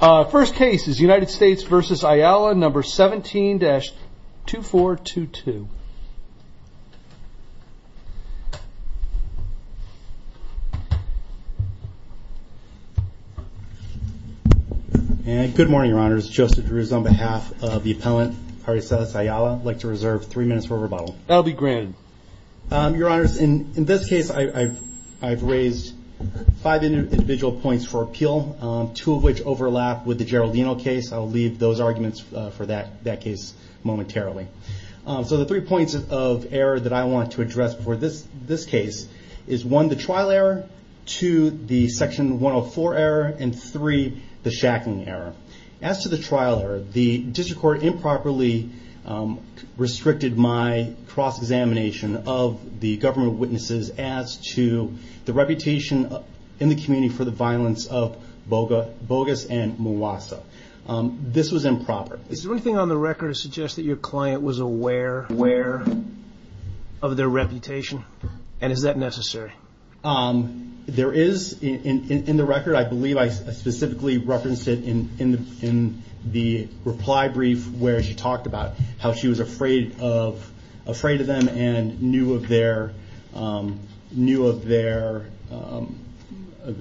First case is United States v. Ayala, No. 17-2422. Good morning, Your Honors. Joseph Drews on behalf of the appellant, Arizeth Ayala, would like to reserve three minutes for rebuttal. That will be granted. Your Honors, in this case, I've raised five individual points for appeal, two of which overlap with the Geraldino case. I'll leave those arguments for that case momentarily. So the three points of error that I want to address for this case is, one, the trial error, two, the Section 104 error, and three, the shackling error. As to the trial error, the district court improperly restricted my cross-examination of the government witnesses as to the reputation in the community for the violence of Bogas and Mawassa. This was improper. Is there anything on the record that suggests that your client was aware of their reputation, and is that necessary? There is in the record. I believe I specifically referenced it in the reply brief where she talked about how she was afraid of them and knew of their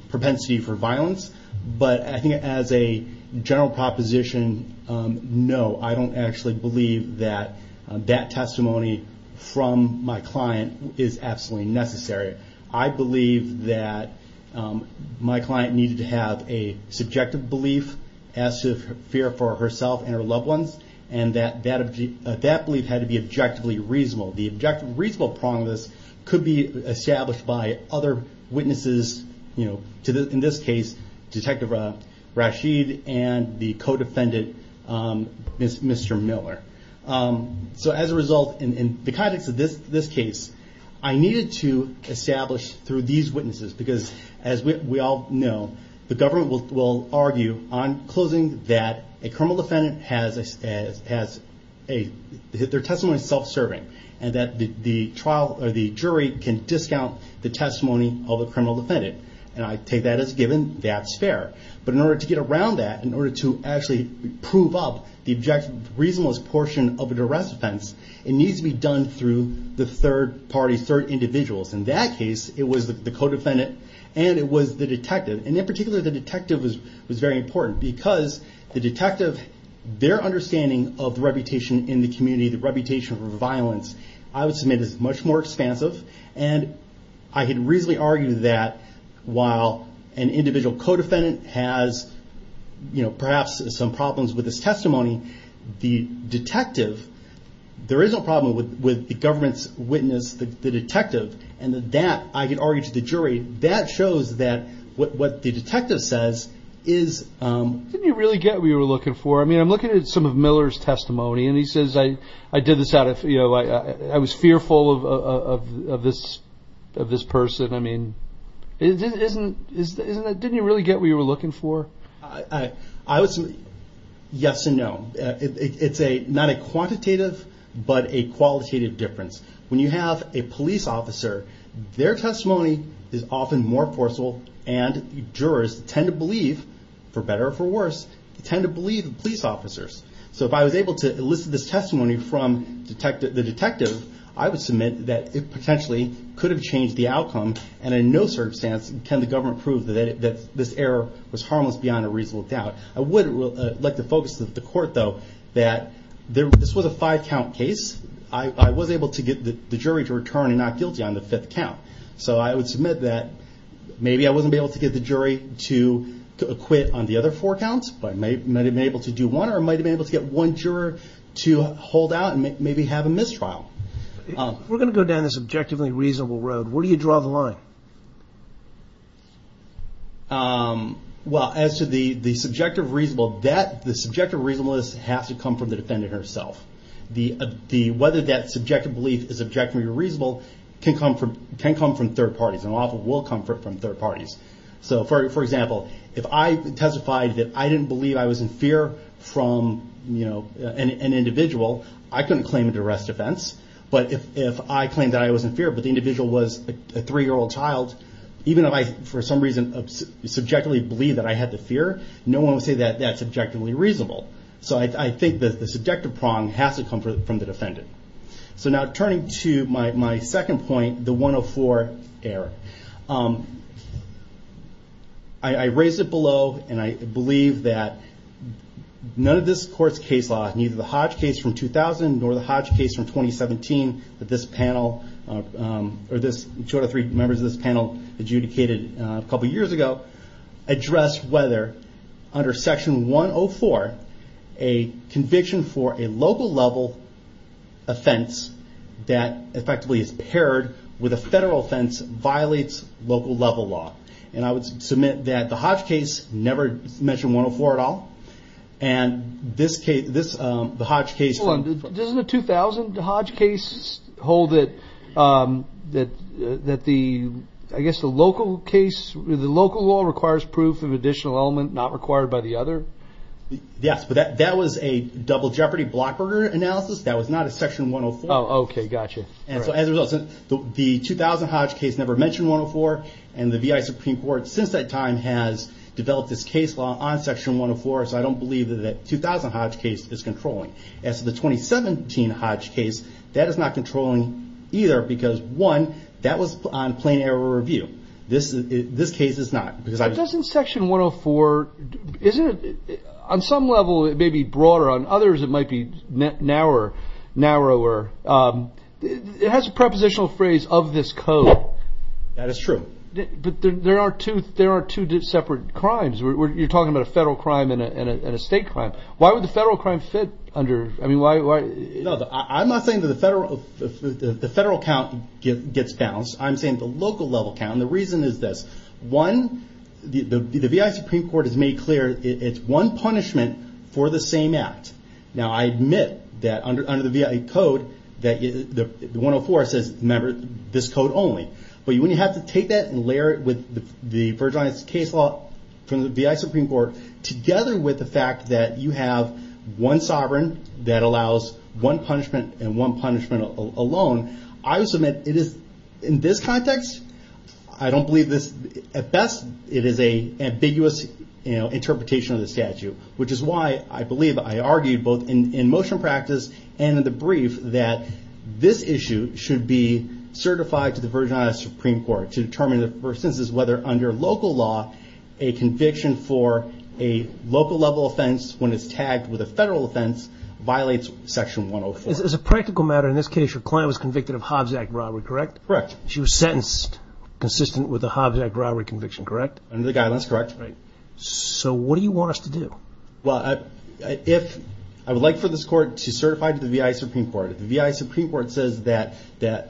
propensity for violence. But I think as a general proposition, no. I don't actually believe that that testimony from my client is absolutely necessary. I believe that my client needed to have a subjective belief as to her fear for herself and her loved ones, and that that belief had to be objectively reasonable. The objective reasonable prong of this could be established by other witnesses, in this case, Detective Rashid and the co-defendant, Mr. Miller. So as a result, in the context of this case, I needed to establish through these witnesses. Because as we all know, the government will argue on closing that a criminal defendant has their testimony self-serving, and that the jury can discount the testimony of a criminal defendant. And I take that as a given. That's fair. But in order to get around that, in order to actually prove up the objective reasonableness portion of an arrest offense, it needs to be done through the third party, third individuals. In that case, it was the co-defendant, and it was the detective. And in particular, the detective was very important. Because the detective, their understanding of the reputation in the community, the reputation for violence, I would submit is much more expansive. And I can reasonably argue that while an individual co-defendant has perhaps some problems with his testimony, the detective, there is no problem with the government's witness, the detective. And that, I can argue to the jury, that shows that what the detective says is... Didn't you really get what you were looking for? I mean, I'm looking at some of Miller's testimony, and he says, I did this out of... I was fearful of this person. I mean, didn't you really get what you were looking for? I would say yes and no. It's not a quantitative, but a qualitative difference. When you have a police officer, their testimony is often more forceful, and jurors tend to believe, for better or for worse, tend to believe the police officers. So if I was able to elicit this testimony from the detective, I would submit that it potentially could have changed the outcome. And in no circumstance can the government prove that this error was harmless beyond a reasonable doubt. I would like to focus the court, though, that this was a five-count case. I was able to get the jury to return and not guilty on the fifth count. So I would submit that maybe I wasn't able to get the jury to acquit on the other four counts, but I might have been able to do one, or I might have been able to get one juror to hold out and maybe have a mistrial. If we're going to go down this objectively reasonable road, where do you draw the line? Well, as to the subjective reasonable, the subjective reasonableness has to come from the defendant herself. Whether that subjective belief is objectively reasonable can come from third parties, and often will come from third parties. So, for example, if I testified that I didn't believe I was in fear from an individual, I couldn't claim an arrest offense. But if I claimed that I was in fear, but the individual was a three-year-old child, even if I, for some reason, subjectively believed that I had the fear, no one would say that that's objectively reasonable. So I think that the subjective prong has to come from the defendant. So now turning to my second point, the 104 error. I raised it below, and I believe that none of this court's case law, neither the Hodge case from 2000 nor the Hodge case from 2017 that this panel, or two out of three members of this panel adjudicated a couple years ago, addressed whether, under section 104, a conviction for a local level offense that effectively is paired with a federal offense violates local level law. And I would submit that the Hodge case never mentioned 104 at all. And this case, the Hodge case... Hold on, doesn't the 2000 Hodge case hold that the local case, the local law requires proof of additional element not required by the other? Yes, but that was a Double Jeopardy Blockburger analysis. That was not a section 104. Oh, okay, gotcha. And so as a result, the 2000 Hodge case never mentioned 104, and the V.I. Supreme Court since that time has developed this case law on section 104. So I don't believe that the 2000 Hodge case is controlling. As for the 2017 Hodge case, that is not controlling either, because one, that was on plain error review. This case is not. But doesn't section 104, on some level it may be broader, on others it might be narrower. It has a prepositional phrase, of this code. That is true. But there are two separate crimes. You're talking about a federal crime and a state crime. Why would the federal crime fit under? I'm not saying that the federal count gets balanced. I'm saying the local level count. And the reason is this. One, the V.I. Supreme Court has made clear it's one punishment for the same act. Now, I admit that under the V.I. code, the 104 says, remember, this code only. But when you have to take that and layer it with the Virgin Islands case law from the V.I. Supreme Court, together with the fact that you have one sovereign that allows one punishment and one punishment alone, I would submit it is, in this context, I don't believe this. At best, it is an ambiguous interpretation of the statute, which is why I believe I argued both in motion practice and in the brief that this issue should be certified to the Virgin Islands Supreme Court to determine whether, under local law, a conviction for a local level offense when it's tagged with a federal offense violates Section 104. As a practical matter, in this case, your client was convicted of Hobbs Act robbery, correct? Correct. She was sentenced consistent with the Hobbs Act robbery conviction, correct? Under the guidelines, correct. So what do you want us to do? Well, I would like for this court to certify to the V.I. Supreme Court. If the V.I. Supreme Court says that,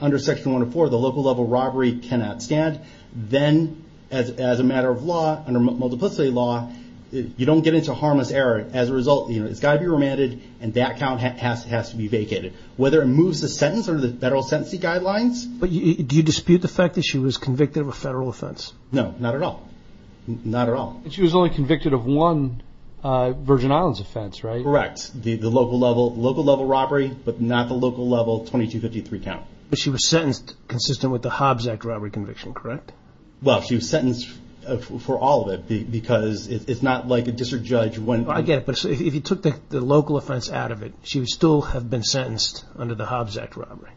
under Section 104, the local level robbery cannot stand, then, as a matter of law, under multiplicity law, you don't get into harmless error. As a result, it's got to be remanded, and that count has to be vacated, whether it moves the sentence under the federal sentencing guidelines. But do you dispute the fact that she was convicted of a federal offense? No, not at all. Not at all. She was only convicted of one Virgin Islands offense, right? Correct. The local level robbery, but not the local level 2253 count. But she was sentenced consistent with the Hobbs Act robbery conviction, correct? Well, she was sentenced for all of it, because it's not like a district judge went and— I get it, but if you took the local offense out of it, she would still have been sentenced under the Hobbs Act robbery.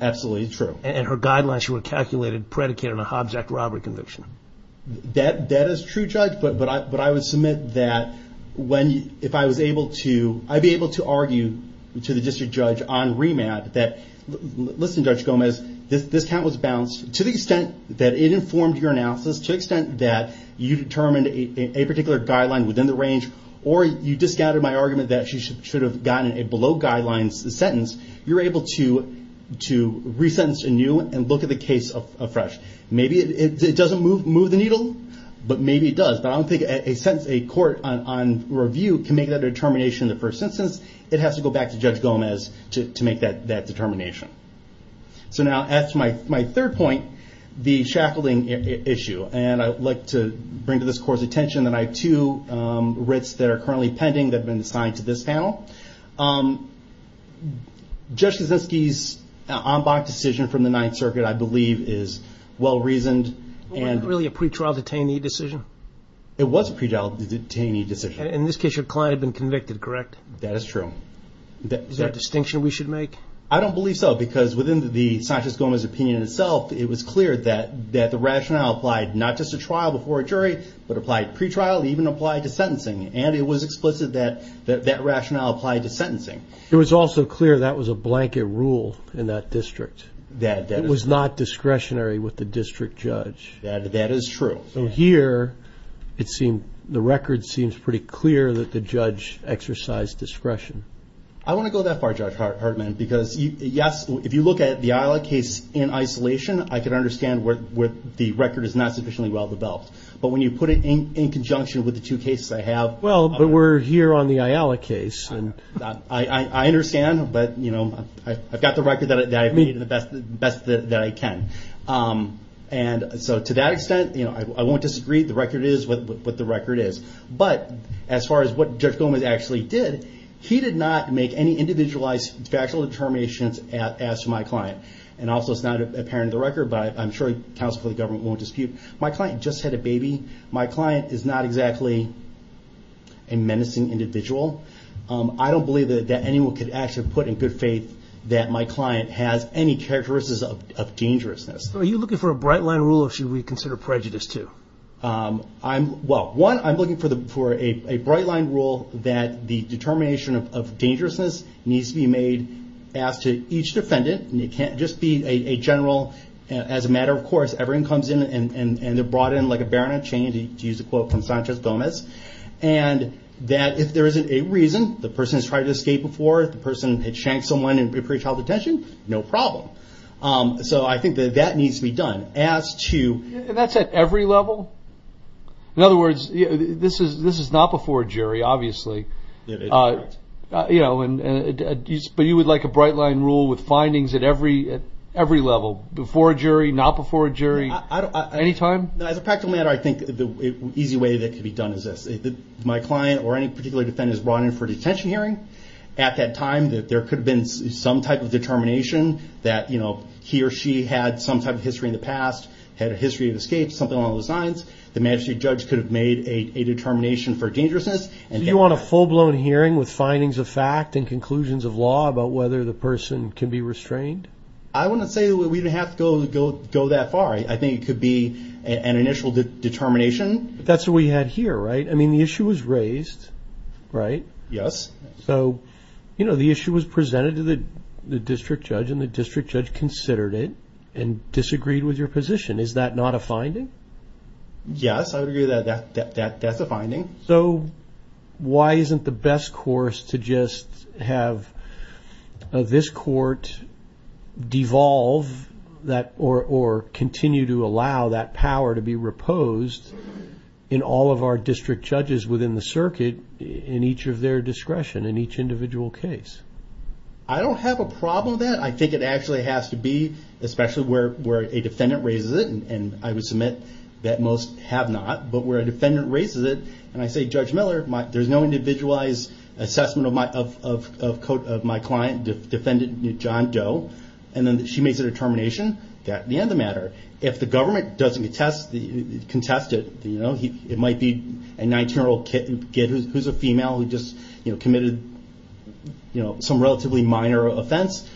Absolutely true. And her guidelines were calculated predicated on a Hobbs Act robbery conviction. That is true, Judge, but I would submit that if I was able to— I'd be able to argue to the district judge on remand that, listen, Judge Gomez, this count was balanced. To the extent that it informed your analysis, to the extent that you determined a particular guideline within the range, or you discounted my argument that she should have gotten a below-guidelines sentence, you're able to resentence anew and look at the case afresh. Maybe it doesn't move the needle, but maybe it does. But I don't think a court on review can make that determination in the first instance. It has to go back to Judge Gomez to make that determination. So now, that's my third point, the shackling issue. And I'd like to bring to this court's attention that I have two writs that are currently pending that have been assigned to this panel. Judge Kaczynski's en banc decision from the Ninth Circuit, I believe, is well-reasoned. It wasn't really a pretrial detainee decision? It was a pretrial detainee decision. In this case, your client had been convicted, correct? That is true. Is that a distinction we should make? I don't believe so, because within the Sanchez-Gomez opinion itself, it was clear that the rationale applied not just to trial before a jury, but applied to pretrial, even applied to sentencing. And it was explicit that that rationale applied to sentencing. It was also clear that was a blanket rule in that district. It was not discretionary with the district judge. That is true. So here, the record seems pretty clear that the judge exercised discretion. I want to go that far, Judge Hartman, because, yes, if you look at the Islay case in isolation, I can understand where the record is not sufficiently well-developed. But when you put it in conjunction with the two cases I have. Well, but we're here on the Islay case. I understand, but I've got the record that I've made the best that I can. And so to that extent, I won't disagree. The record is what the record is. But as far as what Judge Gomez actually did, he did not make any individualized factual determinations as to my client. And also it's not apparent in the record, but I'm sure counsel for the government won't dispute. My client just had a baby. My client is not exactly a menacing individual. I don't believe that anyone could actually put in good faith that my client has any characteristics of dangerousness. So are you looking for a bright-line rule, or should we consider prejudice too? Well, one, I'm looking for a bright-line rule that the determination of dangerousness needs to be made, asked to each defendant, and it can't just be a general, as a matter of course, everyone comes in and they're brought in like a baronet chain, to use a quote from Sanchez Gomez, and that if there isn't a reason, the person has tried to escape before, the person had shanked someone in pre-child detention, no problem. So I think that that needs to be done. And that's at every level? In other words, this is not before a jury, obviously. But you would like a bright-line rule with findings at every level, before a jury, not before a jury, any time? As a practical matter, I think the easy way that could be done is this. If my client or any particular defendant is brought in for a detention hearing, at that time there could have been some type of determination that he or she had some type of history in the past, had a history of escape, something along those lines. The magistrate judge could have made a determination for dangerousness. Do you want a full-blown hearing with findings of fact and conclusions of law about whether the person can be restrained? I wouldn't say that we would have to go that far. I think it could be an initial determination. That's what we had here, right? I mean, the issue was raised, right? Yes. So, you know, the issue was presented to the district judge, and the district judge considered it and disagreed with your position. Is that not a finding? Yes, I would agree that that's a finding. So why isn't the best course to just have this court devolve or continue to allow that power to be reposed in all of our district judges within the circuit in each of their discretion in each individual case? I don't have a problem with that. I think it actually has to be, especially where a defendant raises it, and I would submit that most have not, but where a defendant raises it, and I say, Judge Miller, there's no individualized assessment of my client, defendant John Doe, and then she makes a determination at the end of the matter. If the government doesn't contest it, it might be a 19-year-old kid who's a female who just committed some relatively minor offense,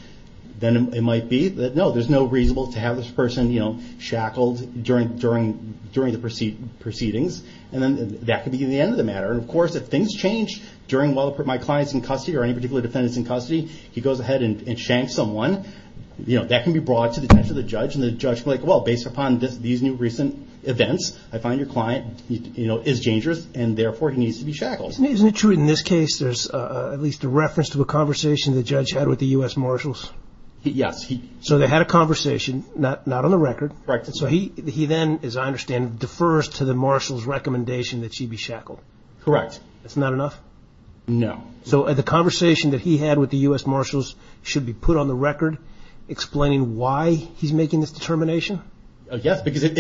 then it might be that, no, there's no reason to have this person shackled during the proceedings, and then that could be the end of the matter. And, of course, if things change while my client's in custody or any particular defendant's in custody, he goes ahead and shanks someone, that can be brought to the attention of the judge, and the judge will be like, well, based upon these new recent events, I find your client is dangerous, and therefore he needs to be shackled. Isn't it true in this case there's at least a reference to a conversation the judge had with the U.S. Marshals? Yes. So they had a conversation, not on the record. Correct. So he then, as I understand, defers to the Marshals' recommendation that she be shackled. Correct. That's not enough? No. So the conversation that he had with the U.S. Marshals should be put on the record explaining why he's making this determination? Yes, because if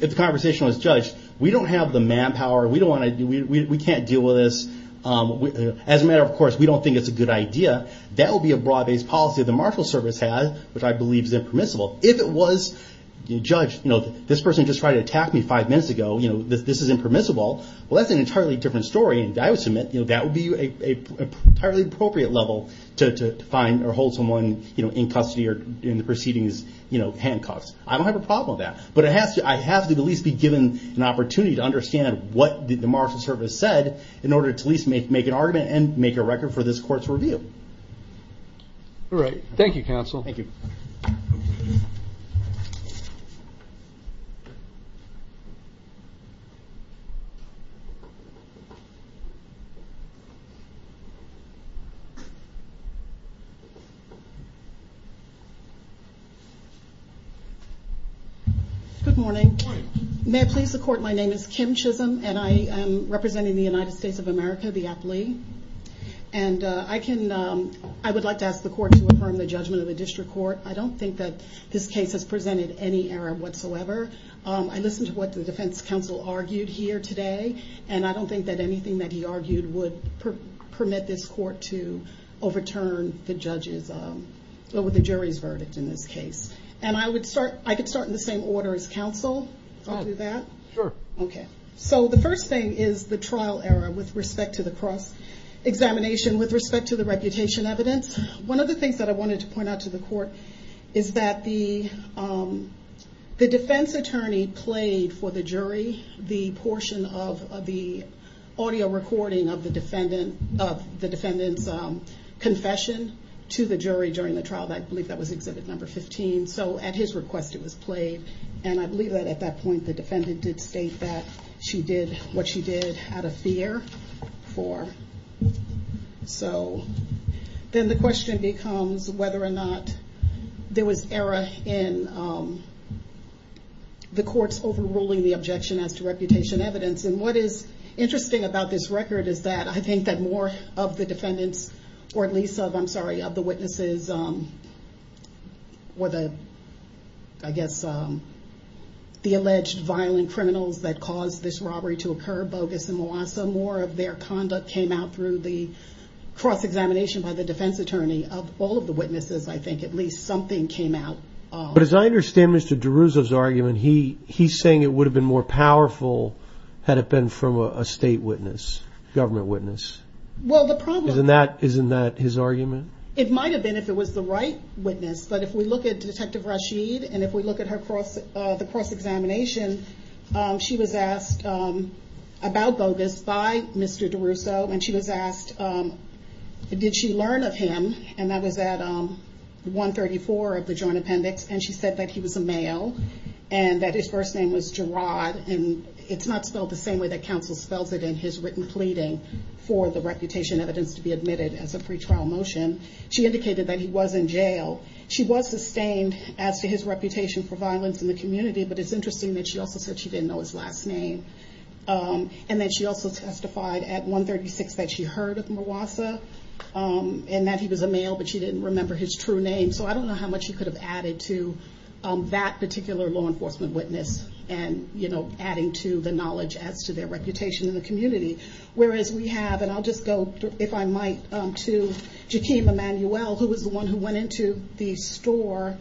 the conversation was judged, we don't have the manpower, we can't deal with this, as a matter of course, we don't think it's a good idea, that would be a broad-based policy the Marshals' service had, which I believe is impermissible. If it was judged, this person just tried to attack me five minutes ago, this is impermissible, well, that's an entirely different story, and I would submit that would be an entirely appropriate level to hold someone in custody or in the proceedings handcuffed. I don't have a problem with that. But I have to at least be given an opportunity to understand what the Marshals' service said in order to at least make an argument and make a record for this court's review. All right. Thank you, counsel. Thank you. Good morning. May it please the court, my name is Kim Chisholm, and I am representing the United States of America, the aptly, and I would like to ask the court to affirm the judgment of the district court. I don't think that this case has presented any error whatsoever. I listened to what the defense counsel argued here today, and I don't think that anything that he argued would permit this court to overturn the judge's, or the jury's verdict in this case. And I would start, I could start in the same order as counsel, if I could do that? Sure. Okay. So the first thing is the trial error with respect to the cross-examination, with respect to the reputation evidence. One of the things that I wanted to point out to the court is that the defense attorney played for the jury the portion of the audio recording of the defendant's confession to the jury during the trial. I believe that was exhibit number 15, so at his request it was played. And I believe that at that point the defendant did state that she did what she did out of fear for. So then the question becomes whether or not there was error in the courts overruling the objection as to reputation evidence. And what is interesting about this record is that I think that more of the defendants, or at least of, I'm sorry, of the witnesses, or I guess the alleged violent criminals that caused this robbery to occur, Bogus and Mwasa, more of their conduct came out through the cross-examination by the defense attorney. Of all of the witnesses, I think at least something came out. But as I understand Mr. DeRuzzo's argument, he's saying it would have been more powerful had it been from a state witness, government witness. Well, the problem... Isn't that his argument? It might have been if it was the right witness, but if we look at Detective Rashid, and if we look at the cross-examination, she was asked about Bogus by Mr. DeRuzzo. And she was asked, did she learn of him? And that was at 134 of the Joint Appendix. And she said that he was a male and that his first name was Gerard. And it's not spelled the same way that counsel spells it in his written pleading for the reputation evidence to be admitted as a pretrial motion. She indicated that he was in jail. She was sustained as to his reputation for violence in the community, but it's interesting that she also said she didn't know his last name. And that she also testified at 136 that she heard of Mawassa, and that he was a male, but she didn't remember his true name. So I don't know how much she could have added to that particular law enforcement witness, and adding to the knowledge as to their reputation in the community. Whereas we have, and I'll just go, if I might, to Jakeem Emanuel, who was the one who went into the store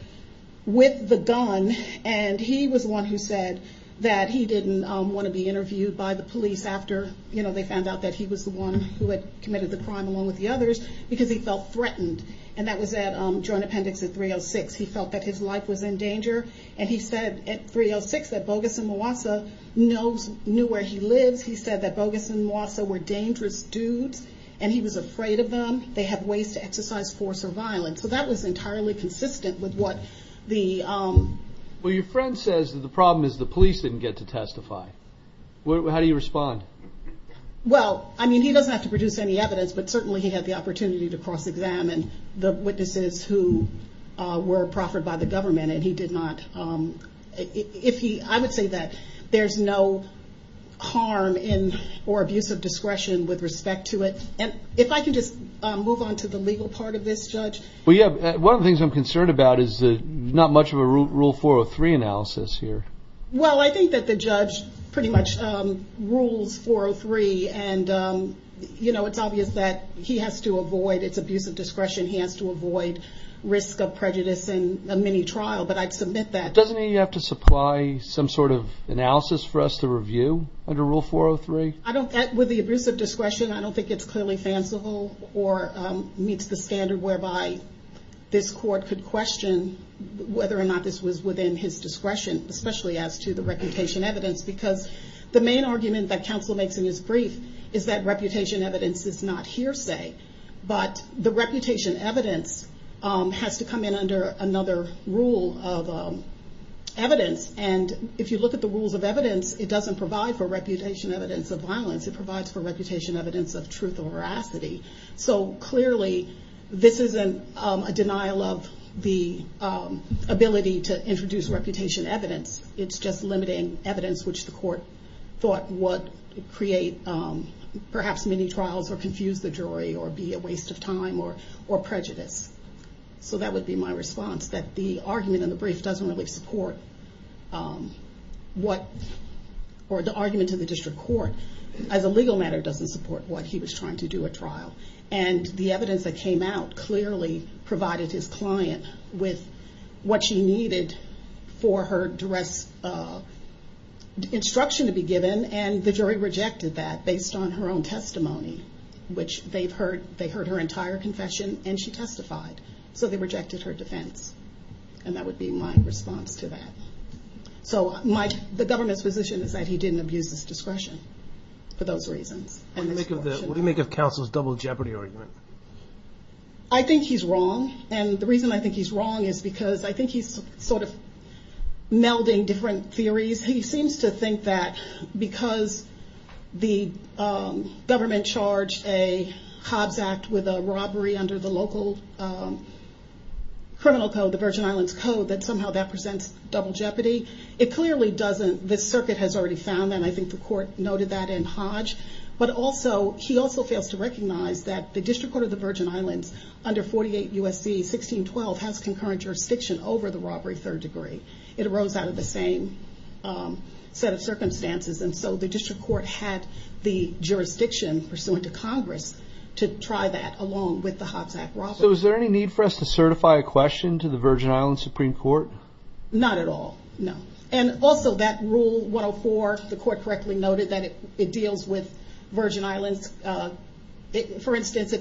with the gun, and he was the one who said that he didn't want to be interviewed by the police after they found out that he was the one who had committed the crime, along with the others, because he felt threatened. And that was at Joint Appendix at 306. He felt that his life was in danger, and he said at 306 that Bogus and Mawassa knew where he lives. He said that Bogus and Mawassa were dangerous dudes, and he was afraid of them. They had ways to exercise force or violence. So that was entirely consistent with what the... Well, your friend says that the problem is the police didn't get to testify. How do you respond? Well, I mean, he doesn't have to produce any evidence, but certainly he had the opportunity to cross-examine the witnesses who were proffered by the government, and he did not... I would say that there's no harm or abuse of discretion with respect to it. And if I can just move on to the legal part of this, Judge... Well, yeah. One of the things I'm concerned about is not much of a Rule 403 analysis here. Well, I think that the judge pretty much rules 403, and it's obvious that he has to avoid... Doesn't he have to supply some sort of analysis for us to review under Rule 403? With the abuse of discretion, I don't think it's clearly fanciful or meets the standard whereby this court could question whether or not this was within his discretion, especially as to the reputation evidence, because the main argument that counsel makes in his brief is that reputation evidence is not hearsay, but the reputation evidence has to come in under another rule of evidence. And if you look at the rules of evidence, it doesn't provide for reputation evidence of violence. It provides for reputation evidence of truth or veracity. So clearly, this isn't a denial of the ability to introduce reputation evidence. It's just limiting evidence which the court thought would create perhaps many trials or confuse the jury or be a waste of time or prejudice. So that would be my response, that the argument in the brief doesn't really support what... Or the argument to the district court, as a legal matter, doesn't support what he was trying to do at trial. And the evidence that came out clearly provided his client with what she needed for her duress instruction to be given, and the jury rejected that based on her own testimony, which they've heard. They heard her entire confession, and she testified. So they rejected her defense, and that would be my response to that. So the government's position is that he didn't abuse his discretion for those reasons. What do you make of counsel's double jeopardy argument? I think he's wrong, and the reason I think he's wrong is because I think he's sort of melding different theories. He seems to think that because the government charged a Hobbs Act with a robbery under the local criminal code, the Virgin Islands Code, that somehow that presents double jeopardy. It clearly doesn't. This circuit has already found that, and I think the court noted that in Hodge. But he also fails to recognize that the District Court of the Virgin Islands, under 48 U.S.C. 1612, has concurrent jurisdiction over the robbery third degree. It arose out of the same set of circumstances, and so the district court had the jurisdiction, pursuant to Congress, to try that along with the Hobbs Act robbery. So is there any need for us to certify a question to the Virgin Islands Supreme Court? Not at all, no. And also that Rule 104, the court correctly noted that it deals with Virgin Islands. For instance,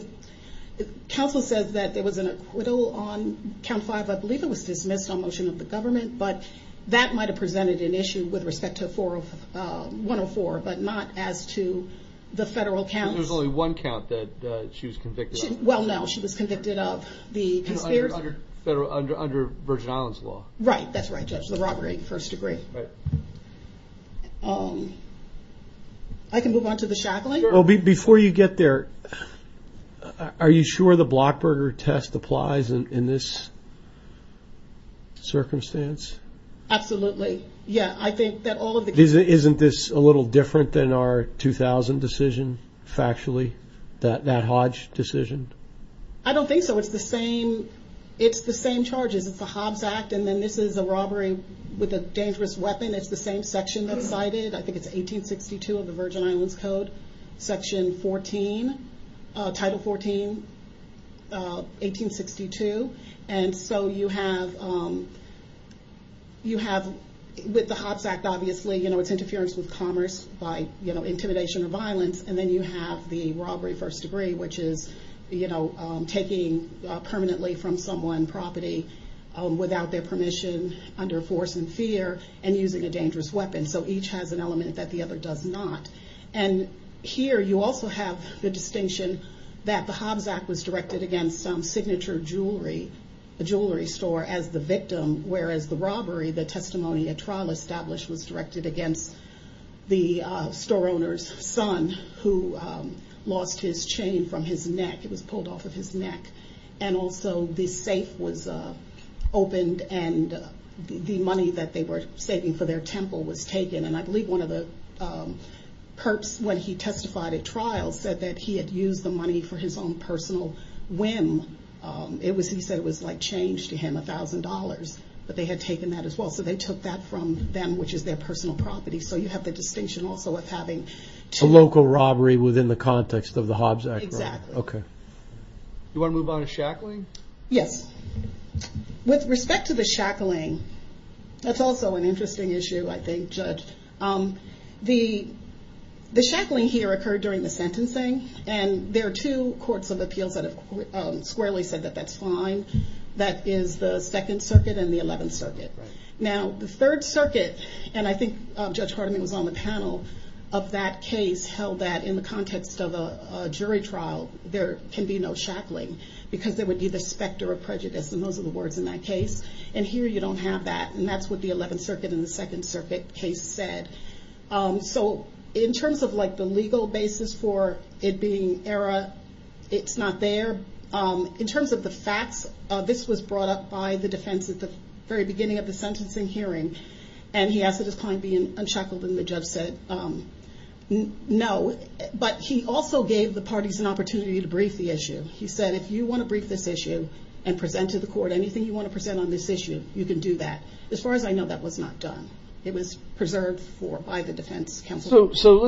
counsel says that there was an acquittal on Count 5. I believe it was dismissed on motion of the government, but that might have presented an issue with respect to 104, but not as to the federal counts. There was only one count that she was convicted of. Well, no, she was convicted of the conspiracy. Under Virgin Islands law. Right, that's right, Judge, the robbery first degree. I can move on to the shackling? Before you get there, are you sure the Blockburger test applies in this circumstance? Absolutely, yeah. Isn't this a little different than our 2000 decision, factually, that Hodge decision? I don't think so. It's the same charges. It's the Hobbs Act, and then this is a robbery with a dangerous weapon. It's the same section that's cited. I think it's 1862 of the Virgin Islands Code, Section 14, Title 14, 1862. And so you have, with the Hobbs Act, obviously, it's interference with commerce by intimidation or violence. And then you have the robbery first degree, which is, you know, taking permanently from someone property without their permission, under force and fear, and using a dangerous weapon. So each has an element that the other does not. And here you also have the distinction that the Hobbs Act was directed against some signature jewelry, a jewelry store, as the victim, whereas the robbery, the testimony at trial established, was directed against the store owner's son, who lost his chain from his neck. It was pulled off of his neck. And also the safe was opened, and the money that they were saving for their temple was taken. And I believe one of the perps, when he testified at trial, said that he had used the money for his own personal whim. He said it was like change to him, $1,000. But they had taken that as well, so they took that from them, which is their personal property. So you have the distinction also of having two... A local robbery within the context of the Hobbs Act robbery. Exactly. Okay. Do you want to move on to shackling? Yes. With respect to the shackling, that's also an interesting issue, I think, Judge. The shackling here occurred during the sentencing, and there are two courts of appeals that have squarely said that that's fine. That is the 2nd Circuit and the 11th Circuit. Now, the 3rd Circuit, and I think Judge Hardiman was on the panel, of that case held that in the context of a jury trial, there can be no shackling because there would be the specter of prejudice, and those are the words in that case. And here you don't have that, and that's what the 11th Circuit and the 2nd Circuit case said. So in terms of the legal basis for it being error, it's not there. In terms of the facts, this was brought up by the defense at the very beginning of the sentencing hearing, and he asked that his client be unshackled, and the judge said no. But he also gave the parties an opportunity to brief the issue. He said, if you want to brief this issue and present to the court anything you want to present on this issue, you can do that. As far as I know, that was not done. It was preserved by the defense counsel. So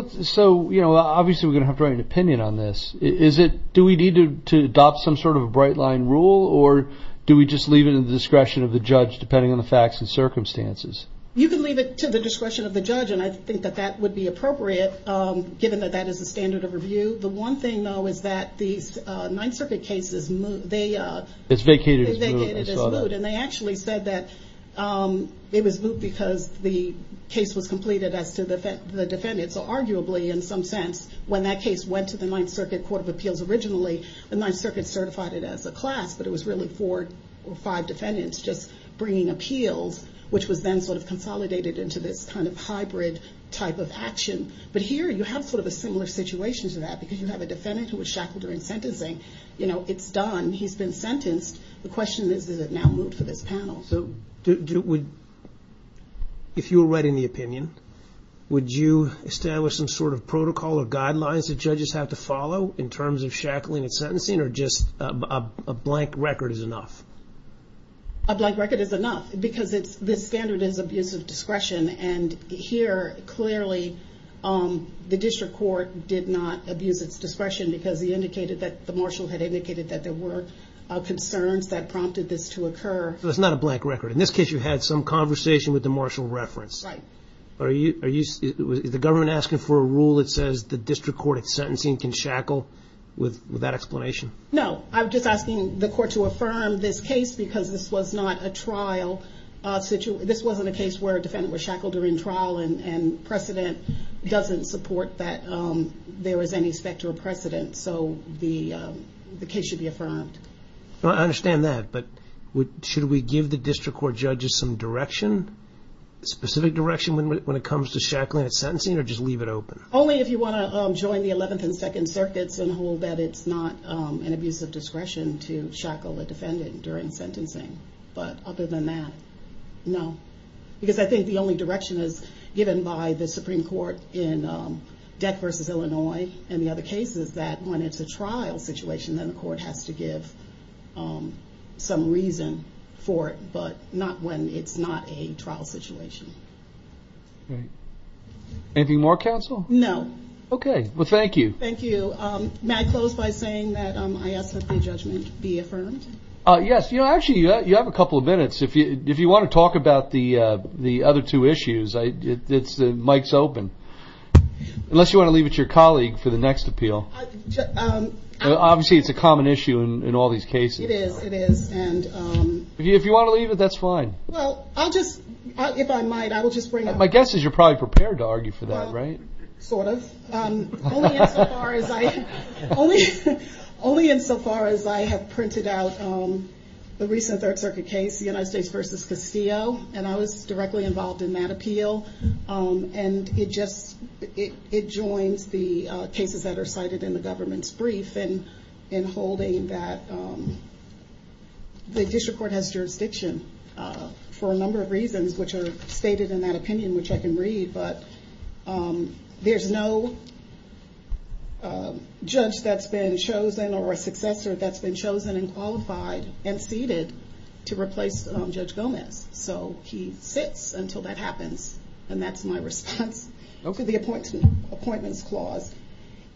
obviously we're going to have to write an opinion on this. Do we need to adopt some sort of a bright-line rule, or do we just leave it at the discretion of the judge depending on the facts and circumstances? You can leave it to the discretion of the judge, and I think that that would be appropriate given that that is the standard of review. The one thing, though, is that the 9th Circuit case is moot. It's vacated as moot, I saw that. And they actually said that it was moot because the case was completed as to the defendants. So arguably, in some sense, when that case went to the 9th Circuit Court of Appeals originally, the 9th Circuit certified it as a class, but it was really four or five defendants just bringing appeals, which was then sort of consolidated into this kind of hybrid type of action. But here you have sort of a similar situation to that because you have a defendant who was shackled during sentencing. It's done, he's been sentenced. The question is, is it now moot for this panel? So if you were writing the opinion, would you establish some sort of protocol or guidelines that judges have to follow in terms of shackling and sentencing, or just a blank record is enough? A blank record is enough because this standard is abuse of discretion, and here, clearly, the district court did not abuse its discretion because he indicated that the marshal had indicated that there were concerns that prompted this to occur. So it's not a blank record. In this case, you had some conversation with the marshal reference. Right. Is the government asking for a rule that says the district court at sentencing can shackle with that explanation? No, I'm just asking the court to affirm this case because this was not a trial situation. This wasn't a case where a defendant was shackled during trial, and precedent doesn't support that there is any specter of precedent. So the case should be affirmed. I understand that, but should we give the district court judges some direction, specific direction when it comes to shackling at sentencing, or just leave it open? Only if you want to join the 11th and 2nd circuits and hold that it's not an abuse of discretion to shackle a defendant during sentencing. But other than that, no. Because I think the only direction is given by the Supreme Court in Deck v. Illinois and the other cases is that when it's a trial situation, then the court has to give some reason for it, but not when it's not a trial situation. Anything more, counsel? No. Okay. Well, thank you. Thank you. May I close by saying that I ask that the judgment be affirmed? Yes. Actually, you have a couple of minutes. If you want to talk about the other two issues, the mic's open. Unless you want to leave it to your colleague for the next appeal. Obviously, it's a common issue in all these cases. It is, it is. If you want to leave it, that's fine. Well, I'll just, if I might, I will just bring it up. My guess is you're probably prepared to argue for that, right? Sort of. Only insofar as I have printed out the recent Third Circuit case, the United States v. Castillo, and I was directly involved in that appeal. And it just, it joins the cases that are cited in the government's brief in holding that the district court has jurisdiction for a number of reasons, which are stated in that opinion, which I can read. But there's no judge that's been chosen or a successor that's been chosen and qualified and seated to replace Judge Gomez. So he sits until that happens. And that's my response to the appointments clause.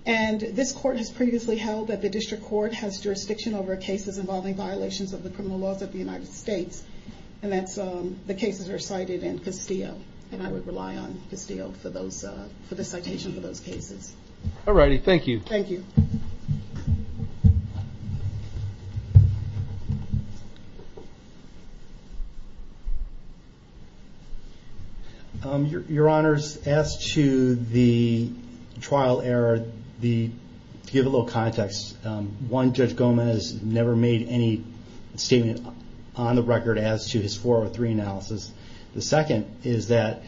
And this court has previously held that the district court has jurisdiction over cases involving violations of the criminal laws of the United States. And that's, the cases are cited in Castillo. And I would rely on Castillo for the citation for those cases. All righty, thank you. Thank you. Your Honor, as to the trial error, to give a little context, one, Judge Gomez never made any statement on the record as to his 403 analysis. The second is that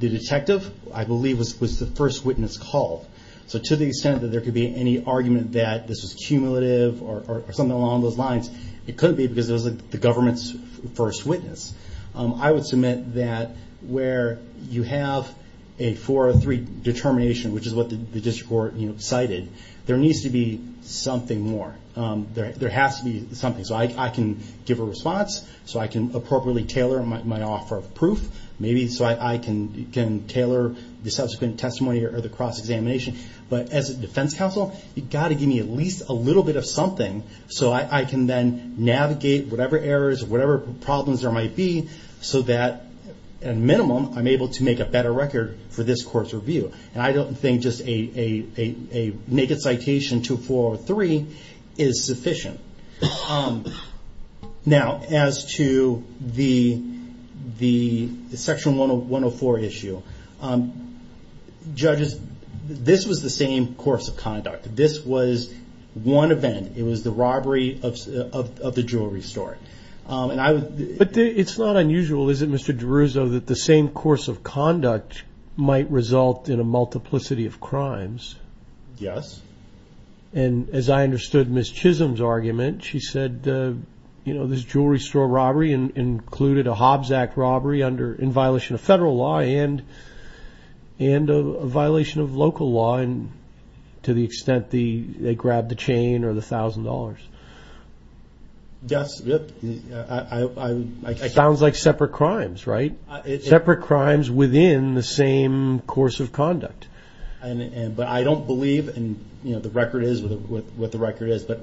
the detective, I believe, was the first witness called. So to the extent that there could be any argument that this was cumulative or something along those lines, it could be because it was the government's first witness. I would submit that where you have a 403 determination, which is what the district court cited, there needs to be something more. There has to be something. So I can give a response, so I can appropriately tailor my offer of proof, maybe so I can tailor the subsequent testimony or the cross-examination. But as a defense counsel, you've got to give me at least a little bit of something so I can then navigate whatever errors, whatever problems there might be, so that, at a minimum, I'm able to make a better record for this court's review. And I don't think just a naked citation to a 403 is sufficient. Now, as to the Section 104 issue, judges, this was the same course of conduct. This was one event. It was the robbery of the jewelry store. But it's not unusual, is it, Mr. DeRuzzo, that the same course of conduct might result in a multiplicity of crimes? Yes. And as I understood Ms. Chisholm's argument, she said, you know, this jewelry store robbery included a Hobbs Act robbery in violation of federal law and a violation of local law to the extent they grabbed the chain or the $1,000. Yes. Sounds like separate crimes, right? Separate crimes within the same course of conduct. But I don't believe, and, you know, the record is what the record is, it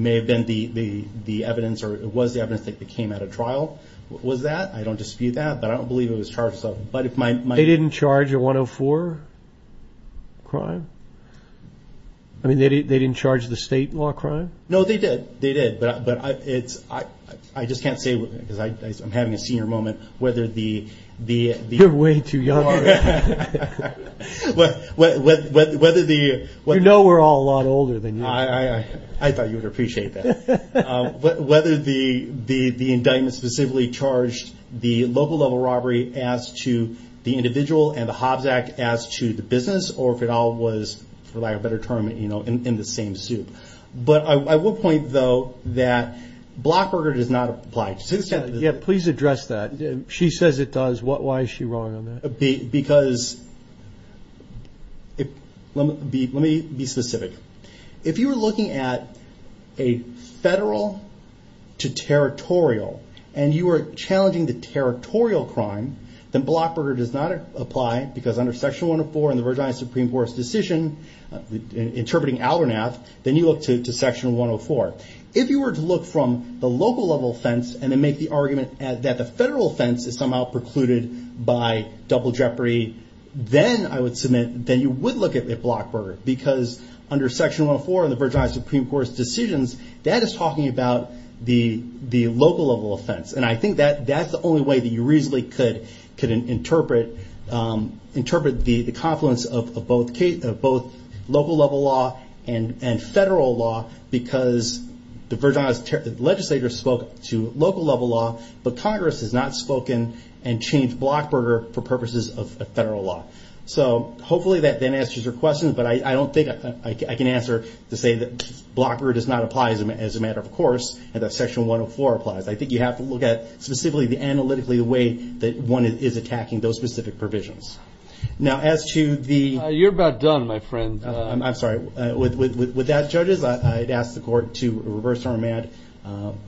may have been the evidence or it was the evidence that came out of trial was that. I don't dispute that. But I don't believe it was charged as such. They didn't charge a 104 crime? I mean, they didn't charge the state law crime? No, they did. They did. But I just can't say, because I'm having a senior moment, whether the ‑‑ You're way too young. You know we're all a lot older than you. I thought you would appreciate that. Whether the indictment specifically charged the local level robbery as to the individual and the Hobbs Act as to the business or if it all was, for lack of a better term, you know, in the same soup. But I will point, though, that Blockburger does not apply. Yeah, please address that. She says it does. Why is she wrong on that? Because, let me be specific. If you were looking at a federal to territorial and you were challenging the territorial crime, then Blockburger does not apply because under Section 104 in the Virginia Supreme Court's decision interpreting Albernath, then you look to Section 104. If you were to look from the local level offense and then make the argument that the federal offense is somehow precluded by double jeopardy, then I would submit, then you would look at Blockburger. Because under Section 104 in the Virginia Supreme Court's decisions, that is talking about the local level offense. And I think that's the only way that you reasonably could interpret the confluence of both local level law and federal law because the legislature spoke to local level law, but Congress has not spoken and changed Blockburger for purposes of federal law. So hopefully that then answers your question. But I don't think I can answer to say that Blockburger does not apply as a matter of course, and that Section 104 applies. I think you have to look at specifically analytically the way that one is attacking those specific provisions. Now, as to the ‑‑ You're about done, my friend. I'm sorry. With that, judges, I'd ask the Court to reverse our mat.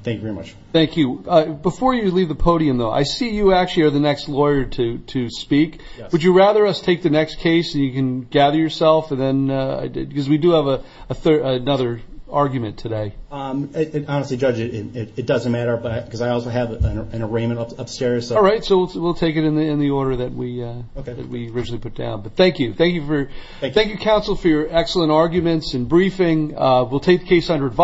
Thank you very much. Thank you. Before you leave the podium, though, I see you actually are the next lawyer to speak. Yes. Would you rather us take the next case so you can gather yourself? Because we do have another argument today. Honestly, Judge, it doesn't matter because I also have an arraignment upstairs. All right. So we'll take it in the order that we originally put down. But thank you. Thank you, counsel, for your excellent arguments and briefing. We'll take the case under advisory.